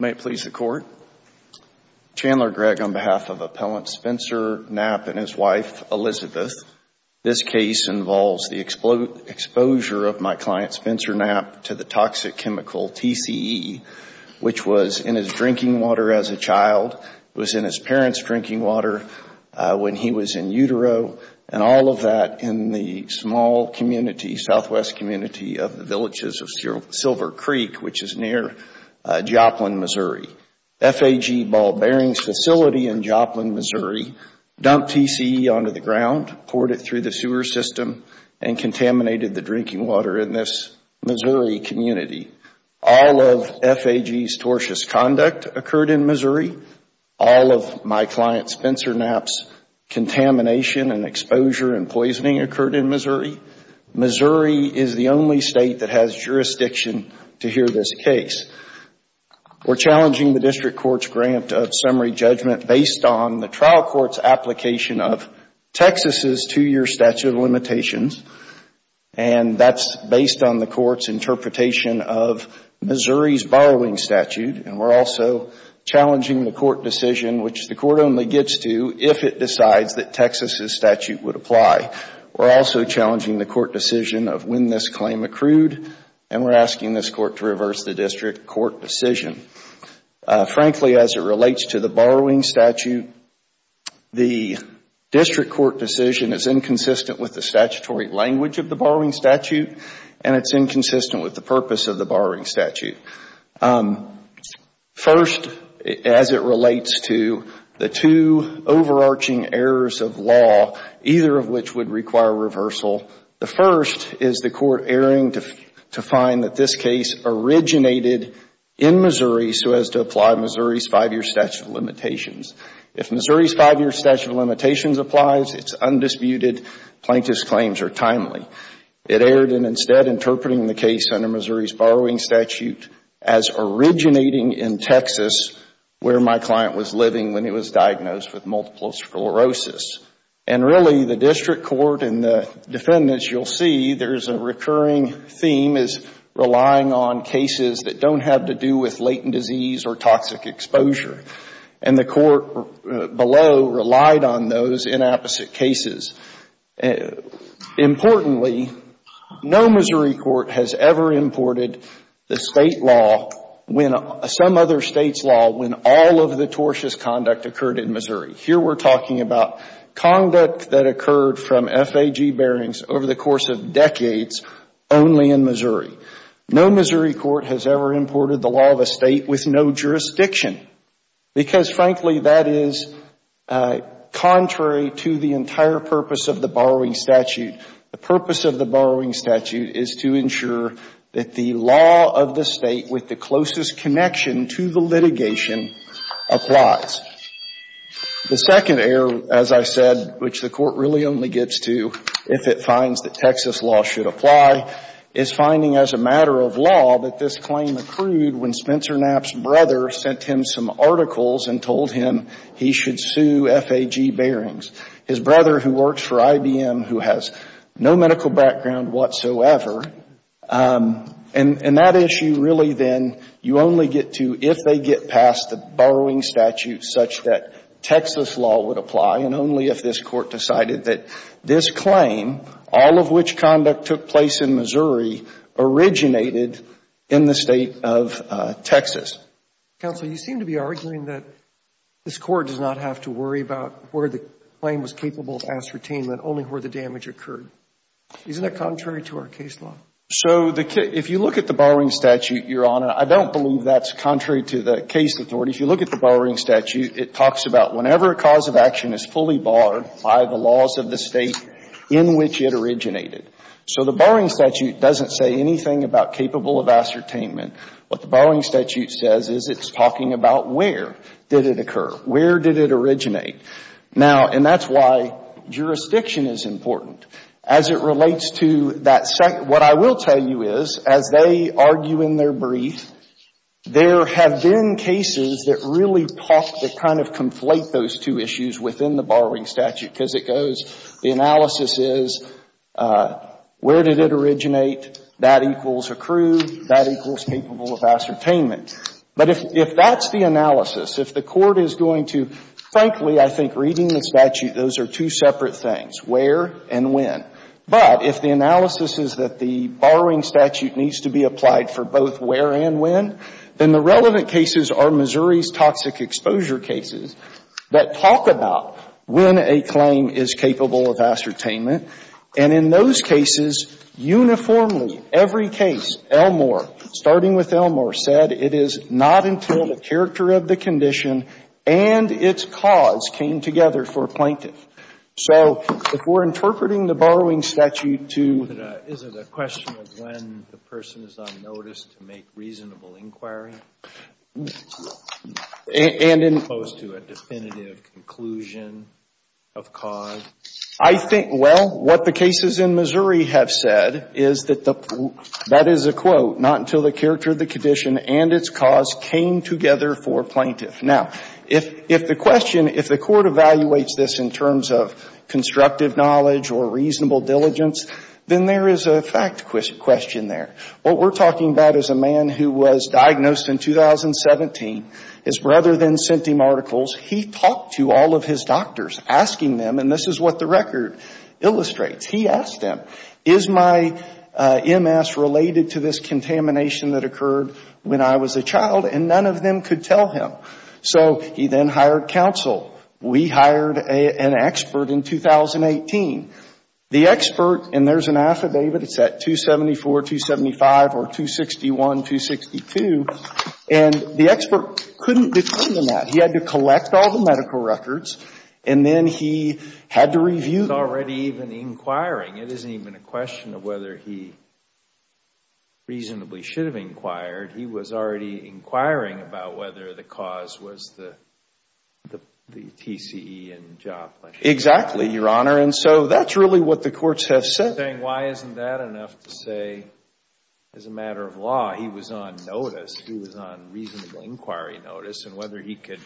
May it please the Court. Chandler Gregg on behalf of Appellant Spencer Knapp and his wife, Elizabeth. This case involves the exposure of my client, Spencer Knapp, to the toxic chemical TCE, which was in his drinking water as a child. It was in his parents' drinking water when he was in utero and all of that in the small community, southwest community of the villages of Silver Creek, which is near Joplin, Missouri. FAG Ball Bearings facility in Joplin, Missouri dumped TCE onto the ground, poured it through the sewer system and contaminated the drinking water in this Missouri community. All of FAG's tortious conduct occurred in Knapp's contamination and exposure and poisoning occurred in Missouri. Missouri is the only State that has jurisdiction to hear this case. We are challenging the district court's grant of summary judgment based on the trial court's application of Texas' two-year statute of limitations and that's based on the court's interpretation of Missouri's borrowing statute. We're also challenging the court decision, which the court only gets to if it decides that Texas' statute would apply. We're also challenging the court decision of when this claim accrued and we're asking this court to reverse the district court decision. Frankly, as it relates to the borrowing statute, the district court decision is inconsistent with the statutory language of the borrowing statute and it's inconsistent with the purpose of the borrowing statute. First, as it relates to the two overarching errors of law, either of which would require reversal, the first is the court erring to find that this case originated in Missouri so as to apply Missouri's five-year statute of limitations. If Missouri's five-year statute of limitations applies, it's undisputed. Plaintiff's claims are timely. It erred in instead interpreting the case under Missouri's borrowing statute as originating in Texas, where my client was living when he was diagnosed with multiple sclerosis. And really, the district court and the defendants, you'll see, there's a recurring theme as relying on cases that don't have to do with latent disease or toxic exposure. And the secondly, no Missouri court has ever imported the State law, some other State's law, when all of the tortious conduct occurred in Missouri. Here we're talking about conduct that occurred from FAG bearings over the course of decades only in Missouri. No Missouri court has ever imported the law of a State with no jurisdiction because, frankly, that is contrary to the entire purpose of the borrowing statute. The purpose of the borrowing statute is to ensure that the law of the State with the closest connection to the litigation applies. The second error, as I said, which the court really only gets to if it finds that Texas law should apply, is finding as a matter of law that this claim accrued when Spencer Knapp's brother sent him some articles and told him he should sue FAG bearings. His brother, who works for IBM, who has no medical background whatsoever, and that issue really then you only get to if they get past the borrowing statute such that Texas law would apply and only if this court decided that this claim, all of which conduct took place in Missouri, originated in the State of Texas. Counsel, you seem to be arguing that this court does not have to worry about where the claim was capable of ascertainment, only where the damage occurred. Isn't that contrary to our case law? So if you look at the borrowing statute, Your Honor, I don't believe that's contrary to the case authority. If you look at the borrowing statute, it talks about whenever a cause of action is fully barred by the laws of the State in which it originated. So the borrowing statute doesn't say anything about capable of ascertainment. What the borrowing statute says is it's talking about where did it occur, where did it originate. Now, and that's why jurisdiction is important. As it relates to that, what I will tell you is, as they argue in their brief, there have been cases that really talk, that kind of conflate those two issues within the borrowing statute, because it goes, the analysis is where did it originate, that equals accrued, that equals capable of ascertainment. But if that's the analysis, if the court is going to, frankly, I think reading the statute, those are two separate things, where and when. But if the analysis is that the borrowing statute needs to be applied for both where and when, then the relevant cases are Missouri's toxic exposure cases that talk about when a claim is capable of ascertainment. And in those cases, uniformly, every case, Elmore, starting with Elmore, said it is not until the character of the condition and its cause came together for a plaintiff. So if we're interpreting the borrowing statute to the Is it a question of when the person is on notice to make reasonable inquiry? And in Close to a definitive conclusion of cause? I think, well, what the cases in Missouri have said is that the, that is a quote, not until the character of the condition and its cause came together for a plaintiff. Now, if the question, if the court evaluates this in terms of constructive knowledge or reasonable diligence, then there is a fact question there. What we're talking about is a man who was diagnosed in 2017. His brother then sent him articles. He talked to all of his doctors, asking them, and this is what the record illustrates. He asked them, is my MS related to this contamination that occurred when I was a child? And none of them could tell him. So he then hired counsel. We hired an expert in 2018. The expert, and there's an affidavit, it's at 274, 275, or 261, 262, and the expert couldn't determine that. He had to collect all the medical records, and then he had to review. He's already even inquiring. It isn't even a question of whether he reasonably should have inquired. He was already inquiring about whether the cause was the TCE and job. Exactly, Your Honor. And so that's really what the courts have said. I'm just saying, why isn't that enough to say, as a matter of law, he was on notice, he was on reasonable inquiry notice, and whether he could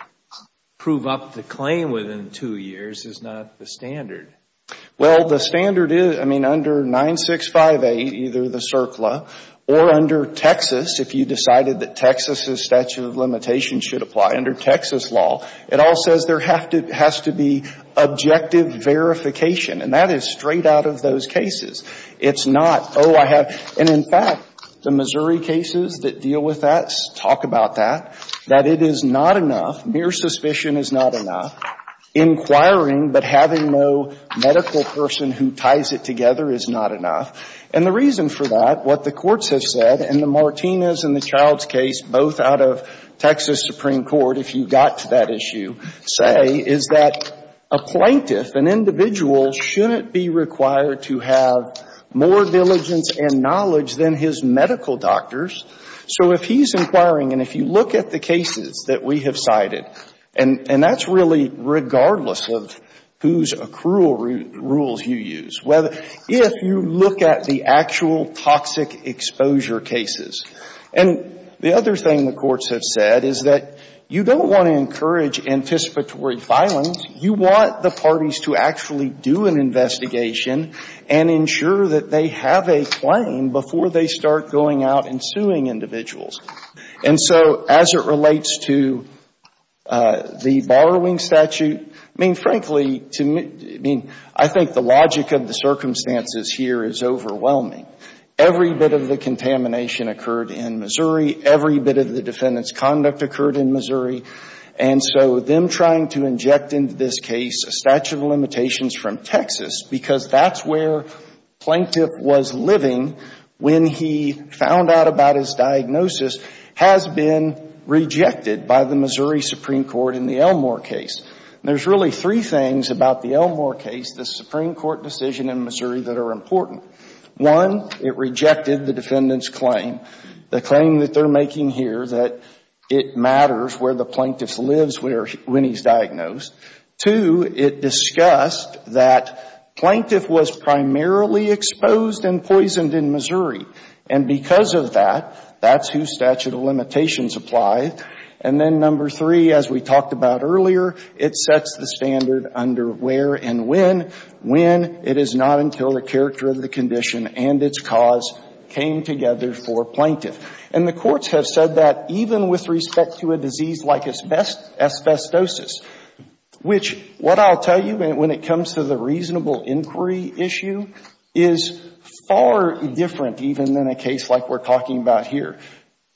prove up the claim within two years is not the standard. Well, the standard is, I mean, under 965A, either the CERCLA or under Texas, if you decided that Texas's statute of limitations should apply under Texas law, it all says there has to be objective verification. And that is straight out of those cases. It's not, oh, I have, and in fact, the Missouri cases that deal with that talk about that, that it is not enough. Mere suspicion is not enough. Inquiring, but having no medical person who ties it together is not enough. And the reason for that, what the courts have said, and the Martinez and the Childs case, both out of Texas Supreme Court, if you got to that issue, say, is that a plaintiff, an individual, shouldn't be required to have more diligence and knowledge than his medical doctors. So if he's inquiring, and if you look at the cases that we have cited, and that's really regardless of whose accrual rules you use, if you look at the actual toxic exposure cases. And the other thing the courts have said is that you don't want to encourage anticipatory violence. You want the parties to actually do an investigation and ensure that they have a claim before they start going out and suing individuals. And so as it relates to the borrowing statute, I mean, frankly, I think the logic of the circumstances here is that every bit of the defendant's conduct occurred in Missouri. And so them trying to inject into this case a statute of limitations from Texas, because that's where the plaintiff was living when he found out about his diagnosis, has been rejected by the Missouri Supreme Court in the Elmore case. There's really three things about the Elmore case, the Supreme Court decision in Missouri, that are important. One, it rejected the defendant's claim, the claim that they're making here that it matters where the plaintiff lives when he's diagnosed. Two, it discussed that plaintiff was primarily exposed and poisoned in Missouri. And because of that, that's whose statute of limitations apply. And then number three, as we talked about earlier, it sets the standard under where and when, when it is not until the character of the condition and its cause can be rejected that it came together for a plaintiff. And the courts have said that even with respect to a disease like asbestosis, which what I'll tell you when it comes to the reasonable inquiry issue, is far different even than a case like we're talking about here.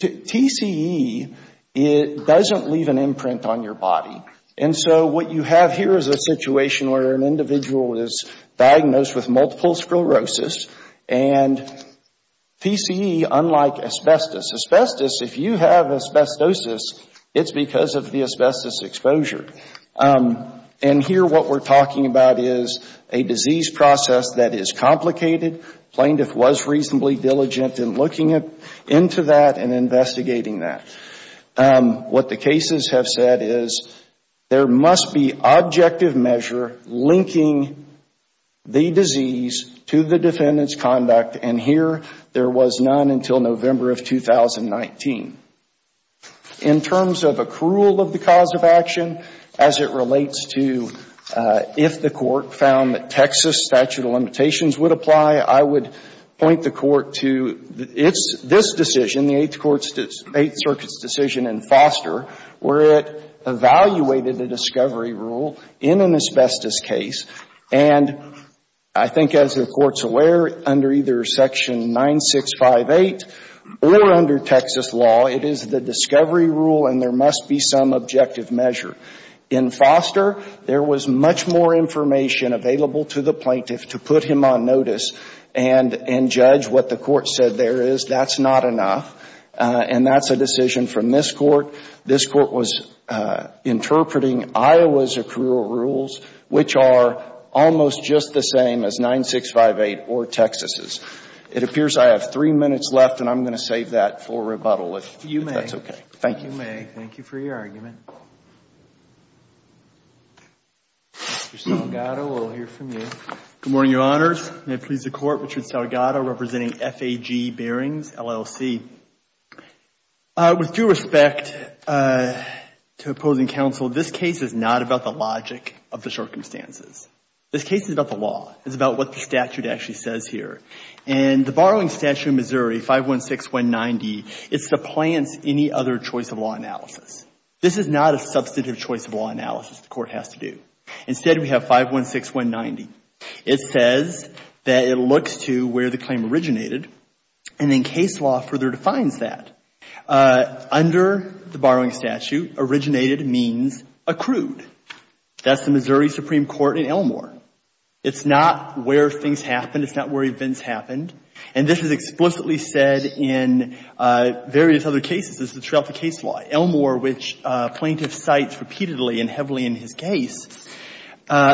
TCE, it doesn't leave an imprint on your body. And so what you have here is a situation where an individual is diagnosed with multiple sclerosis, and they're TCE unlike asbestos. Asbestos, if you have asbestosis, it's because of the asbestos exposure. And here what we're talking about is a disease process that is complicated. Plaintiff was reasonably diligent in looking into that and investigating that. What the cases have said is there must be objective measure linking the disease to the defendant's conduct. And here there was none until November of 2019. In terms of accrual of the cause of action, as it relates to if the Court found that Texas statute of limitations would apply, I would point the Court to this decision, the Eighth Circuit's decision in Foster, where it evaluated a discovery rule in an asbestos case. And I think as the Court's aware, under either Section 9658 or under Texas law, it is the discovery rule and there must be some objective measure. In Foster, there was much more information available to the plaintiff to put him on notice and judge what the Court said there is. That's not enough. And that's a decision from this Court. This Court was able to make a decision that is almost just the same as 9658 or Texas's. It appears I have three minutes left, and I'm going to save that for rebuttal, if that's okay. Thank you. Thank you, May. Thank you for your argument. Mr. Salgado, we'll hear from you. Good morning, Your Honors. May it please the Court, Richard Salgado, representing F.A.G. Bearings, LLC. With due respect to opposing counsel, this case is not about the logic of the circumstances. This case is about the law. It's about what the statute actually says here. And the borrowing statute in Missouri, 516190, it supplants any other choice of law analysis. This is not a substantive choice of law analysis the Court has to do. Instead, we have 516190. It says that it looks to where the claim originated, and then case law further defines that. Under the borrowing statute, originated means accrued. That's the meaning of Missouri Supreme Court in Elmore. It's not where things happened. It's not where events happened. And this is explicitly said in various other cases. This is throughout the case law. Elmore, which plaintiff cites repeatedly and heavily in his case,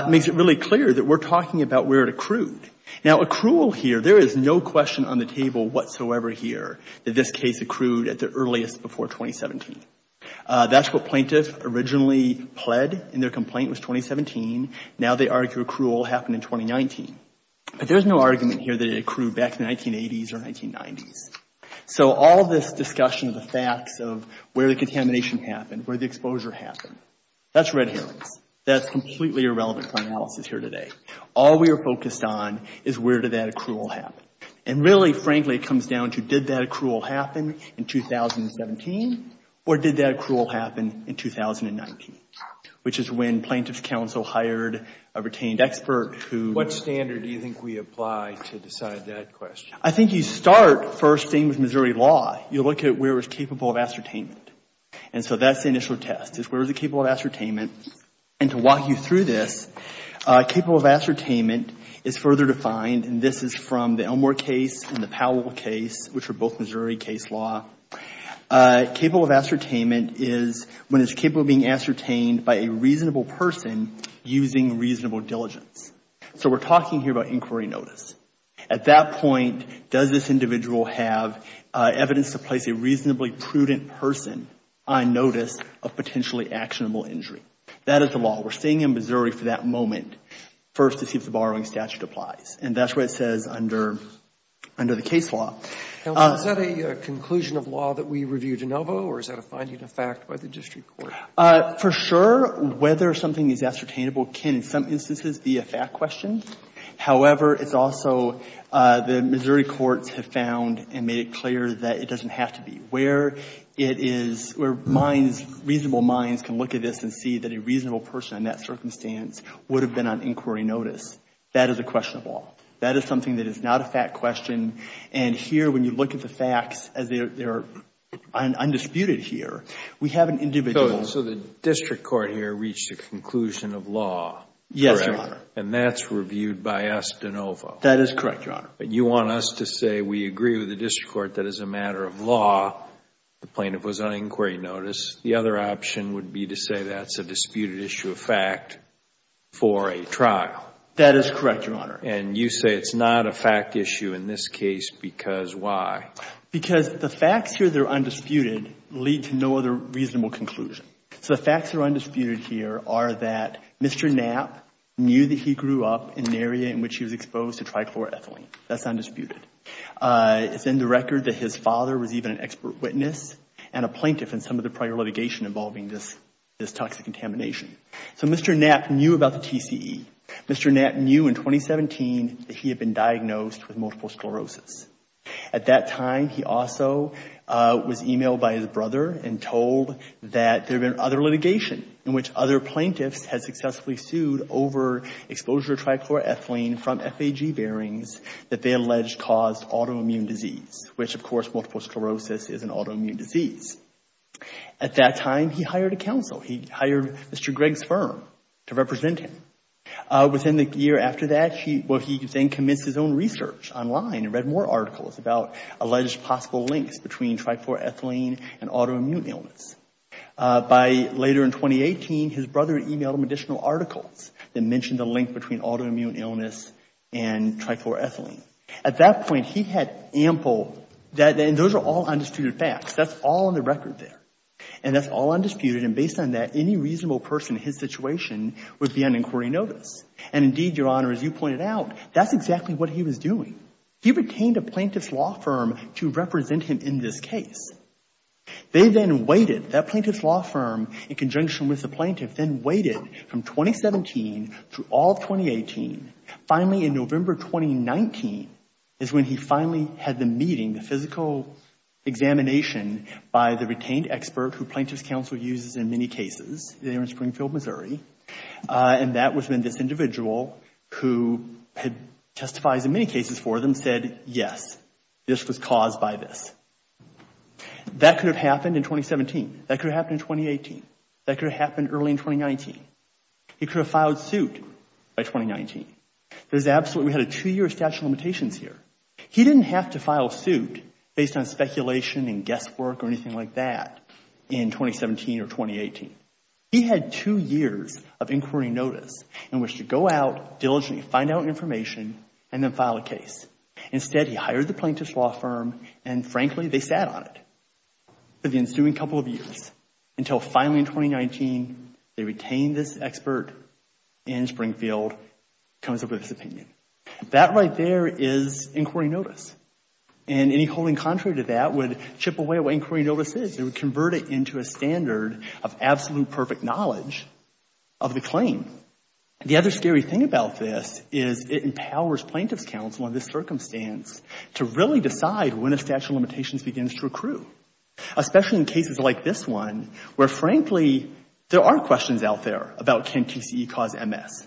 makes it really clear that we're talking about where it accrued. Now, accrual here, there is no question on the table whatsoever here that this case accrued at the earliest before 2017. That's what plaintiff originally pled in their complaint was 2017. Now they argue accrual happened in 2019. But there's no argument here that it accrued back in the 1980s or 1990s. So all this discussion of the facts of where the contamination happened, where the exposure happened, that's red herrings. That's completely irrelevant for analysis here today. All we are focused on is where did that accrual happen. And really, frankly, it comes down to did that accrual happen in 2017 or did that accrual happen in 2019, which is when Plaintiff's Counsel hired a retained expert who... What standard do you think we apply to decide that question? I think you start first thing with Missouri law. You look at where it was capable of ascertainment. And so that's the initial test is where is it capable of ascertainment. And to walk you through this, capable of ascertainment is further defined, and this is from the Elmore case and the Powell case, which are both Missouri case law. Capable of ascertainment is when it's capable of being ascertained by a reasonable person using reasonable diligence. So we're talking here about inquiry notice. At that point, does this individual have evidence to place a reasonably prudent person on notice of potentially actionable injury? That is the law. We're staying in Missouri for that moment first to see if the borrowing statute applies. And that's what it says under the case law. Now, is that a conclusion of law that we review de novo or is that a finding of fact by the district court? For sure, whether something is ascertainable can, in some instances, be a fact question. However, it's also the Missouri courts have found and made it clear that it doesn't have to be. Where it is... where reasonable minds can look at this and see that a reasonable person in that circumstance would have been on inquiry notice, that is a question of law. That is something that is not a fact question. And here, when you look at the facts as they are undisputed here, we have an individual... So the district court here reached a conclusion of law, correct? Yes, Your Honor. And that's reviewed by us de novo? That is correct, Your Honor. But you want us to say we agree with the district court that as a matter of law, the plaintiff was on inquiry notice. The other option would be to say that's a disputed issue of fact for a trial. That is correct, Your Honor. And you say it's not a fact issue in this case because why? Because the facts here that are undisputed lead to no other reasonable conclusion. So the facts that are undisputed here are that Mr. Knapp knew that he grew up in an area in which he was exposed to trichloroethylene. That's undisputed. It's in the record that his father was even an expert witness and a plaintiff in some of the prior litigation involving this toxic contamination. So Mr. Knapp knew about the TCE. Mr. Knapp knew in 2017 that he had been diagnosed with multiple sclerosis. At that time, he also was emailed by his brother and told that there had been other litigation in which other plaintiffs had successfully sued over exposure to trichloroethylene from FAG bearings that they alleged caused autoimmune disease, which, of course, multiple sclerosis is an autoimmune disease. At that time, he hired a counsel. He hired Mr. Gregg's firm to represent him. Within the year after that, he then commenced his own research online and read more articles about alleged possible links between trichloroethylene and autoimmune illness. Later in 2018, his brother emailed him additional articles that mentioned the link between autoimmune illness and trichloroethylene. At that point, he had ample, and those are all undisputed facts. That's all in the record there. And that's all undisputed. And based on that, any reasonable person in his situation would be on inquiry notice. And indeed, Your Honor, as you pointed out, that's exactly what he was doing. He retained a plaintiff's law firm to represent him in this case. They then waited, that plaintiff's law firm, in conjunction with the plaintiff, then waited from 2017 through all of 2018. Finally, in November 2019, is when he finally had the meeting, the physical examination by the retained expert who plaintiff's counsel uses in many cases there in Springfield, Missouri. And that was when this individual who had testified in many cases for them said, yes, this was caused by this. That could have happened in 2017. That could have happened in 2018. That could have happened early in 2019. He could have filed suit by 2019. There's absolutely, we had a two-year statute of limitations here. He didn't have to file suit based on speculation and guesswork or anything like that in 2017 or 2018. He had two years of inquiry notice in which to go out, diligently find out information, and then file a case. Instead, he hired the plaintiff's law firm, and frankly, they sat on it for the ensuing couple of years until finally in 2019, they retained this expert in Springfield, comes up with this opinion. That right there is inquiry notice. And any holding contrary to that would chip away at what inquiry notice is. It would convert it into a standard of absolute perfect knowledge of the claim. The other scary thing about this is it empowers plaintiff's counsel in this circumstance to really decide when a statute of limitations begins to accrue, especially in cases like this one where, frankly, there are questions out there about can TCE cause MS.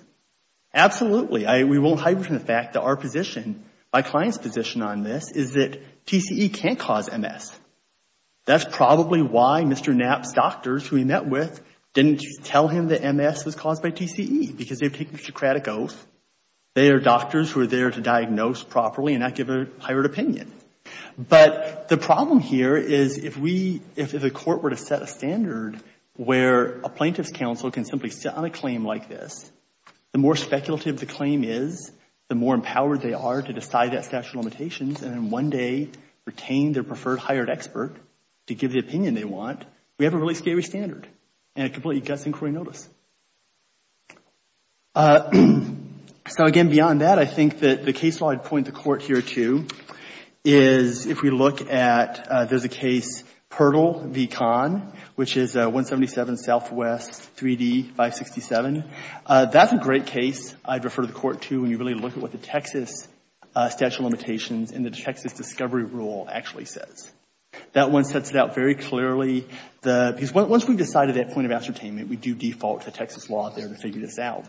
Absolutely. We won't hide from the fact that our position, my client's position on this, is that TCE can't cause MS. That's probably why Mr. Knapp's doctors, who he met with, didn't tell him that MS was caused by TCE because they've taken a Socratic oath. They are doctors who are there to diagnose properly and not give a hired opinion. But the problem here is if a court were to set a standard where a plaintiff's counsel can simply sit on a claim like this, the more speculative the claim is, the more empowered they are to decide that statute of limitations and then one day retain their preferred hired expert to give the opinion they want, we have a really scary standard and a completely gutsy inquiry notice. So again, beyond that, I think that the case law I'd point the Court here to is if we look at, there's a case, Pirtle v. Kahn, which is 177 Southwest, 3D, 567. That's a great case I'd refer the Court to when you really look at what the Texas statute of limitations and the Texas discovery rule actually says. That one sets it out very clearly. Because once we've decided that point of ascertainment, we do default to Texas law there to figure this out.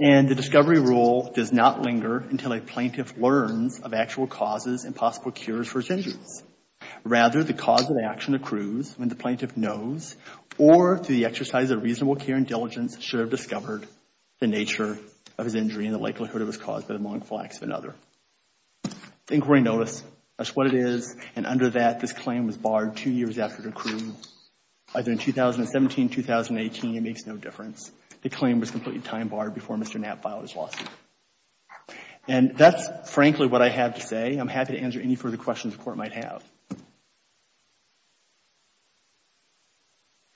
And the discovery rule does not linger until a plaintiff learns of actual causes and possible cures for his injuries. Rather, the cause of action accrues when the plaintiff knows or through the exercise of reasonable care and diligence should have done so. The inquiry notice, that's what it is. And under that, this claim was barred two years after it accrued. Either in 2017, 2018, it makes no difference. The claim was completely time barred before Mr. Knapp filed his lawsuit. And that's frankly what I have to say. I'm happy to answer any further questions the Court might have.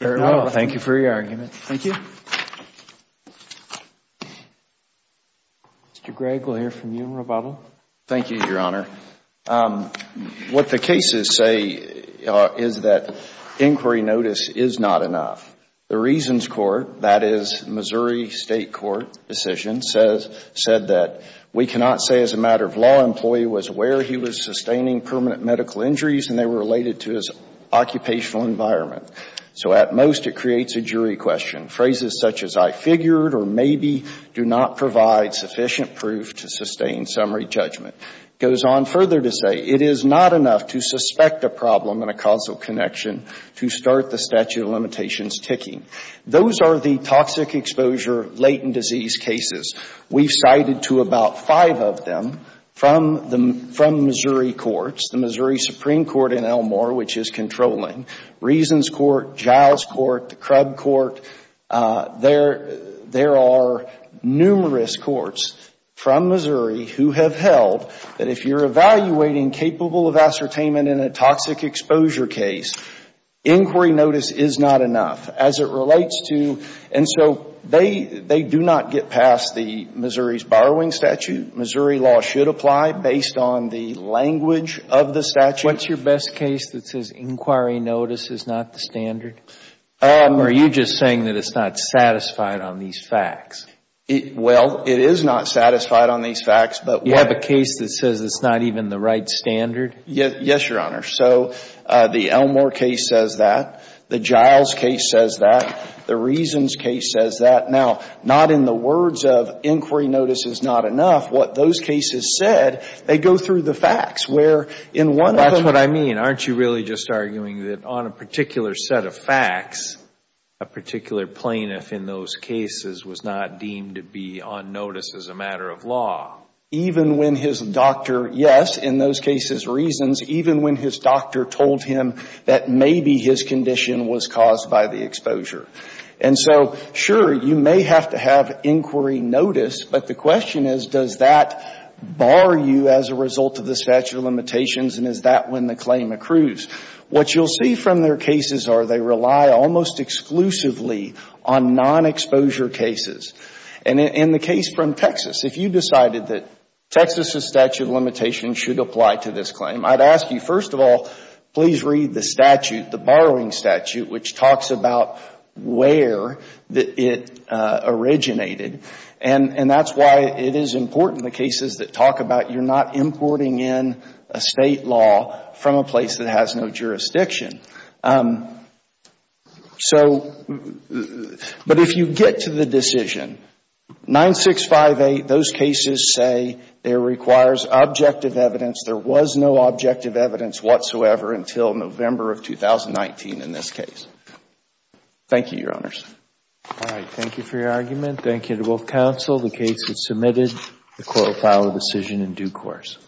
Thank you for your argument. Thank you. Mr. Gregg, we'll hear from you in rebuttal. Thank you, Your Honor. What the cases say is that inquiry notice is not enough. The Reasons Court, that is Missouri State Court decision, said that we cannot say as a matter of law an employee was aware he was sustaining permanent medical injuries and they were related to his occupational environment. So at most, it creates a jury question. Phrases such as I figured or maybe do not provide sufficient proof to sustain summary judgment. It goes on further to say it is not enough to suspect a problem in a causal connection to start the statute of limitations ticking. Those are the toxic exposure, latent disease cases. We've cited to about five of them from Missouri courts. The Missouri Supreme Court in Elmore which is controlling, Reasons Court, Giles Court, the Crub Court, there are numerous courts from Missouri who have held that if you're evaluating capable of ascertainment in a toxic exposure case, inquiry notice is not enough. As it relates to, and so they do not get past the Missouri's borrowing statute. Missouri law should apply based on the language of the statute. What's your best case that says inquiry notice is not the standard? Or are you just saying that it's not satisfied on these facts? Well, it is not satisfied on these facts. You have a case that says it's not even the right standard? Yes, Your Honor. So the Elmore case says that. The Giles case says that. The Reasons case says that. Now, not in the words of inquiry notice is not enough, what those cases said, they go through the facts where in one of them. That's what I mean. Aren't you really just arguing that on a particular set of facts, a particular plaintiff in those cases was not deemed to be on notice as a matter of law? Even when his doctor, yes, in those cases reasons, even when his doctor told him that maybe his condition was caused by the exposure. And so, sure, you may have to have inquiry notice, but the question is, does that bar you as a result of the statute of limitations and is that when the claim accrues? What you'll see from their cases are they rely almost exclusively on non-exposure cases. And in the case from Texas, if you decided that Texas's statute of limitations should apply to this claim, I'd ask you, first of all, please read the statute, the important, the cases that talk about you're not importing in a State law from a place that has no jurisdiction. So, but if you get to the decision, 9658, those cases say it requires objective evidence. There was no objective evidence whatsoever until November of 2019 in this case. Thank you, Your Honors. All right. Thank you for your argument. Thank you to both counsel. The case is submitted. The court will file a decision in due course.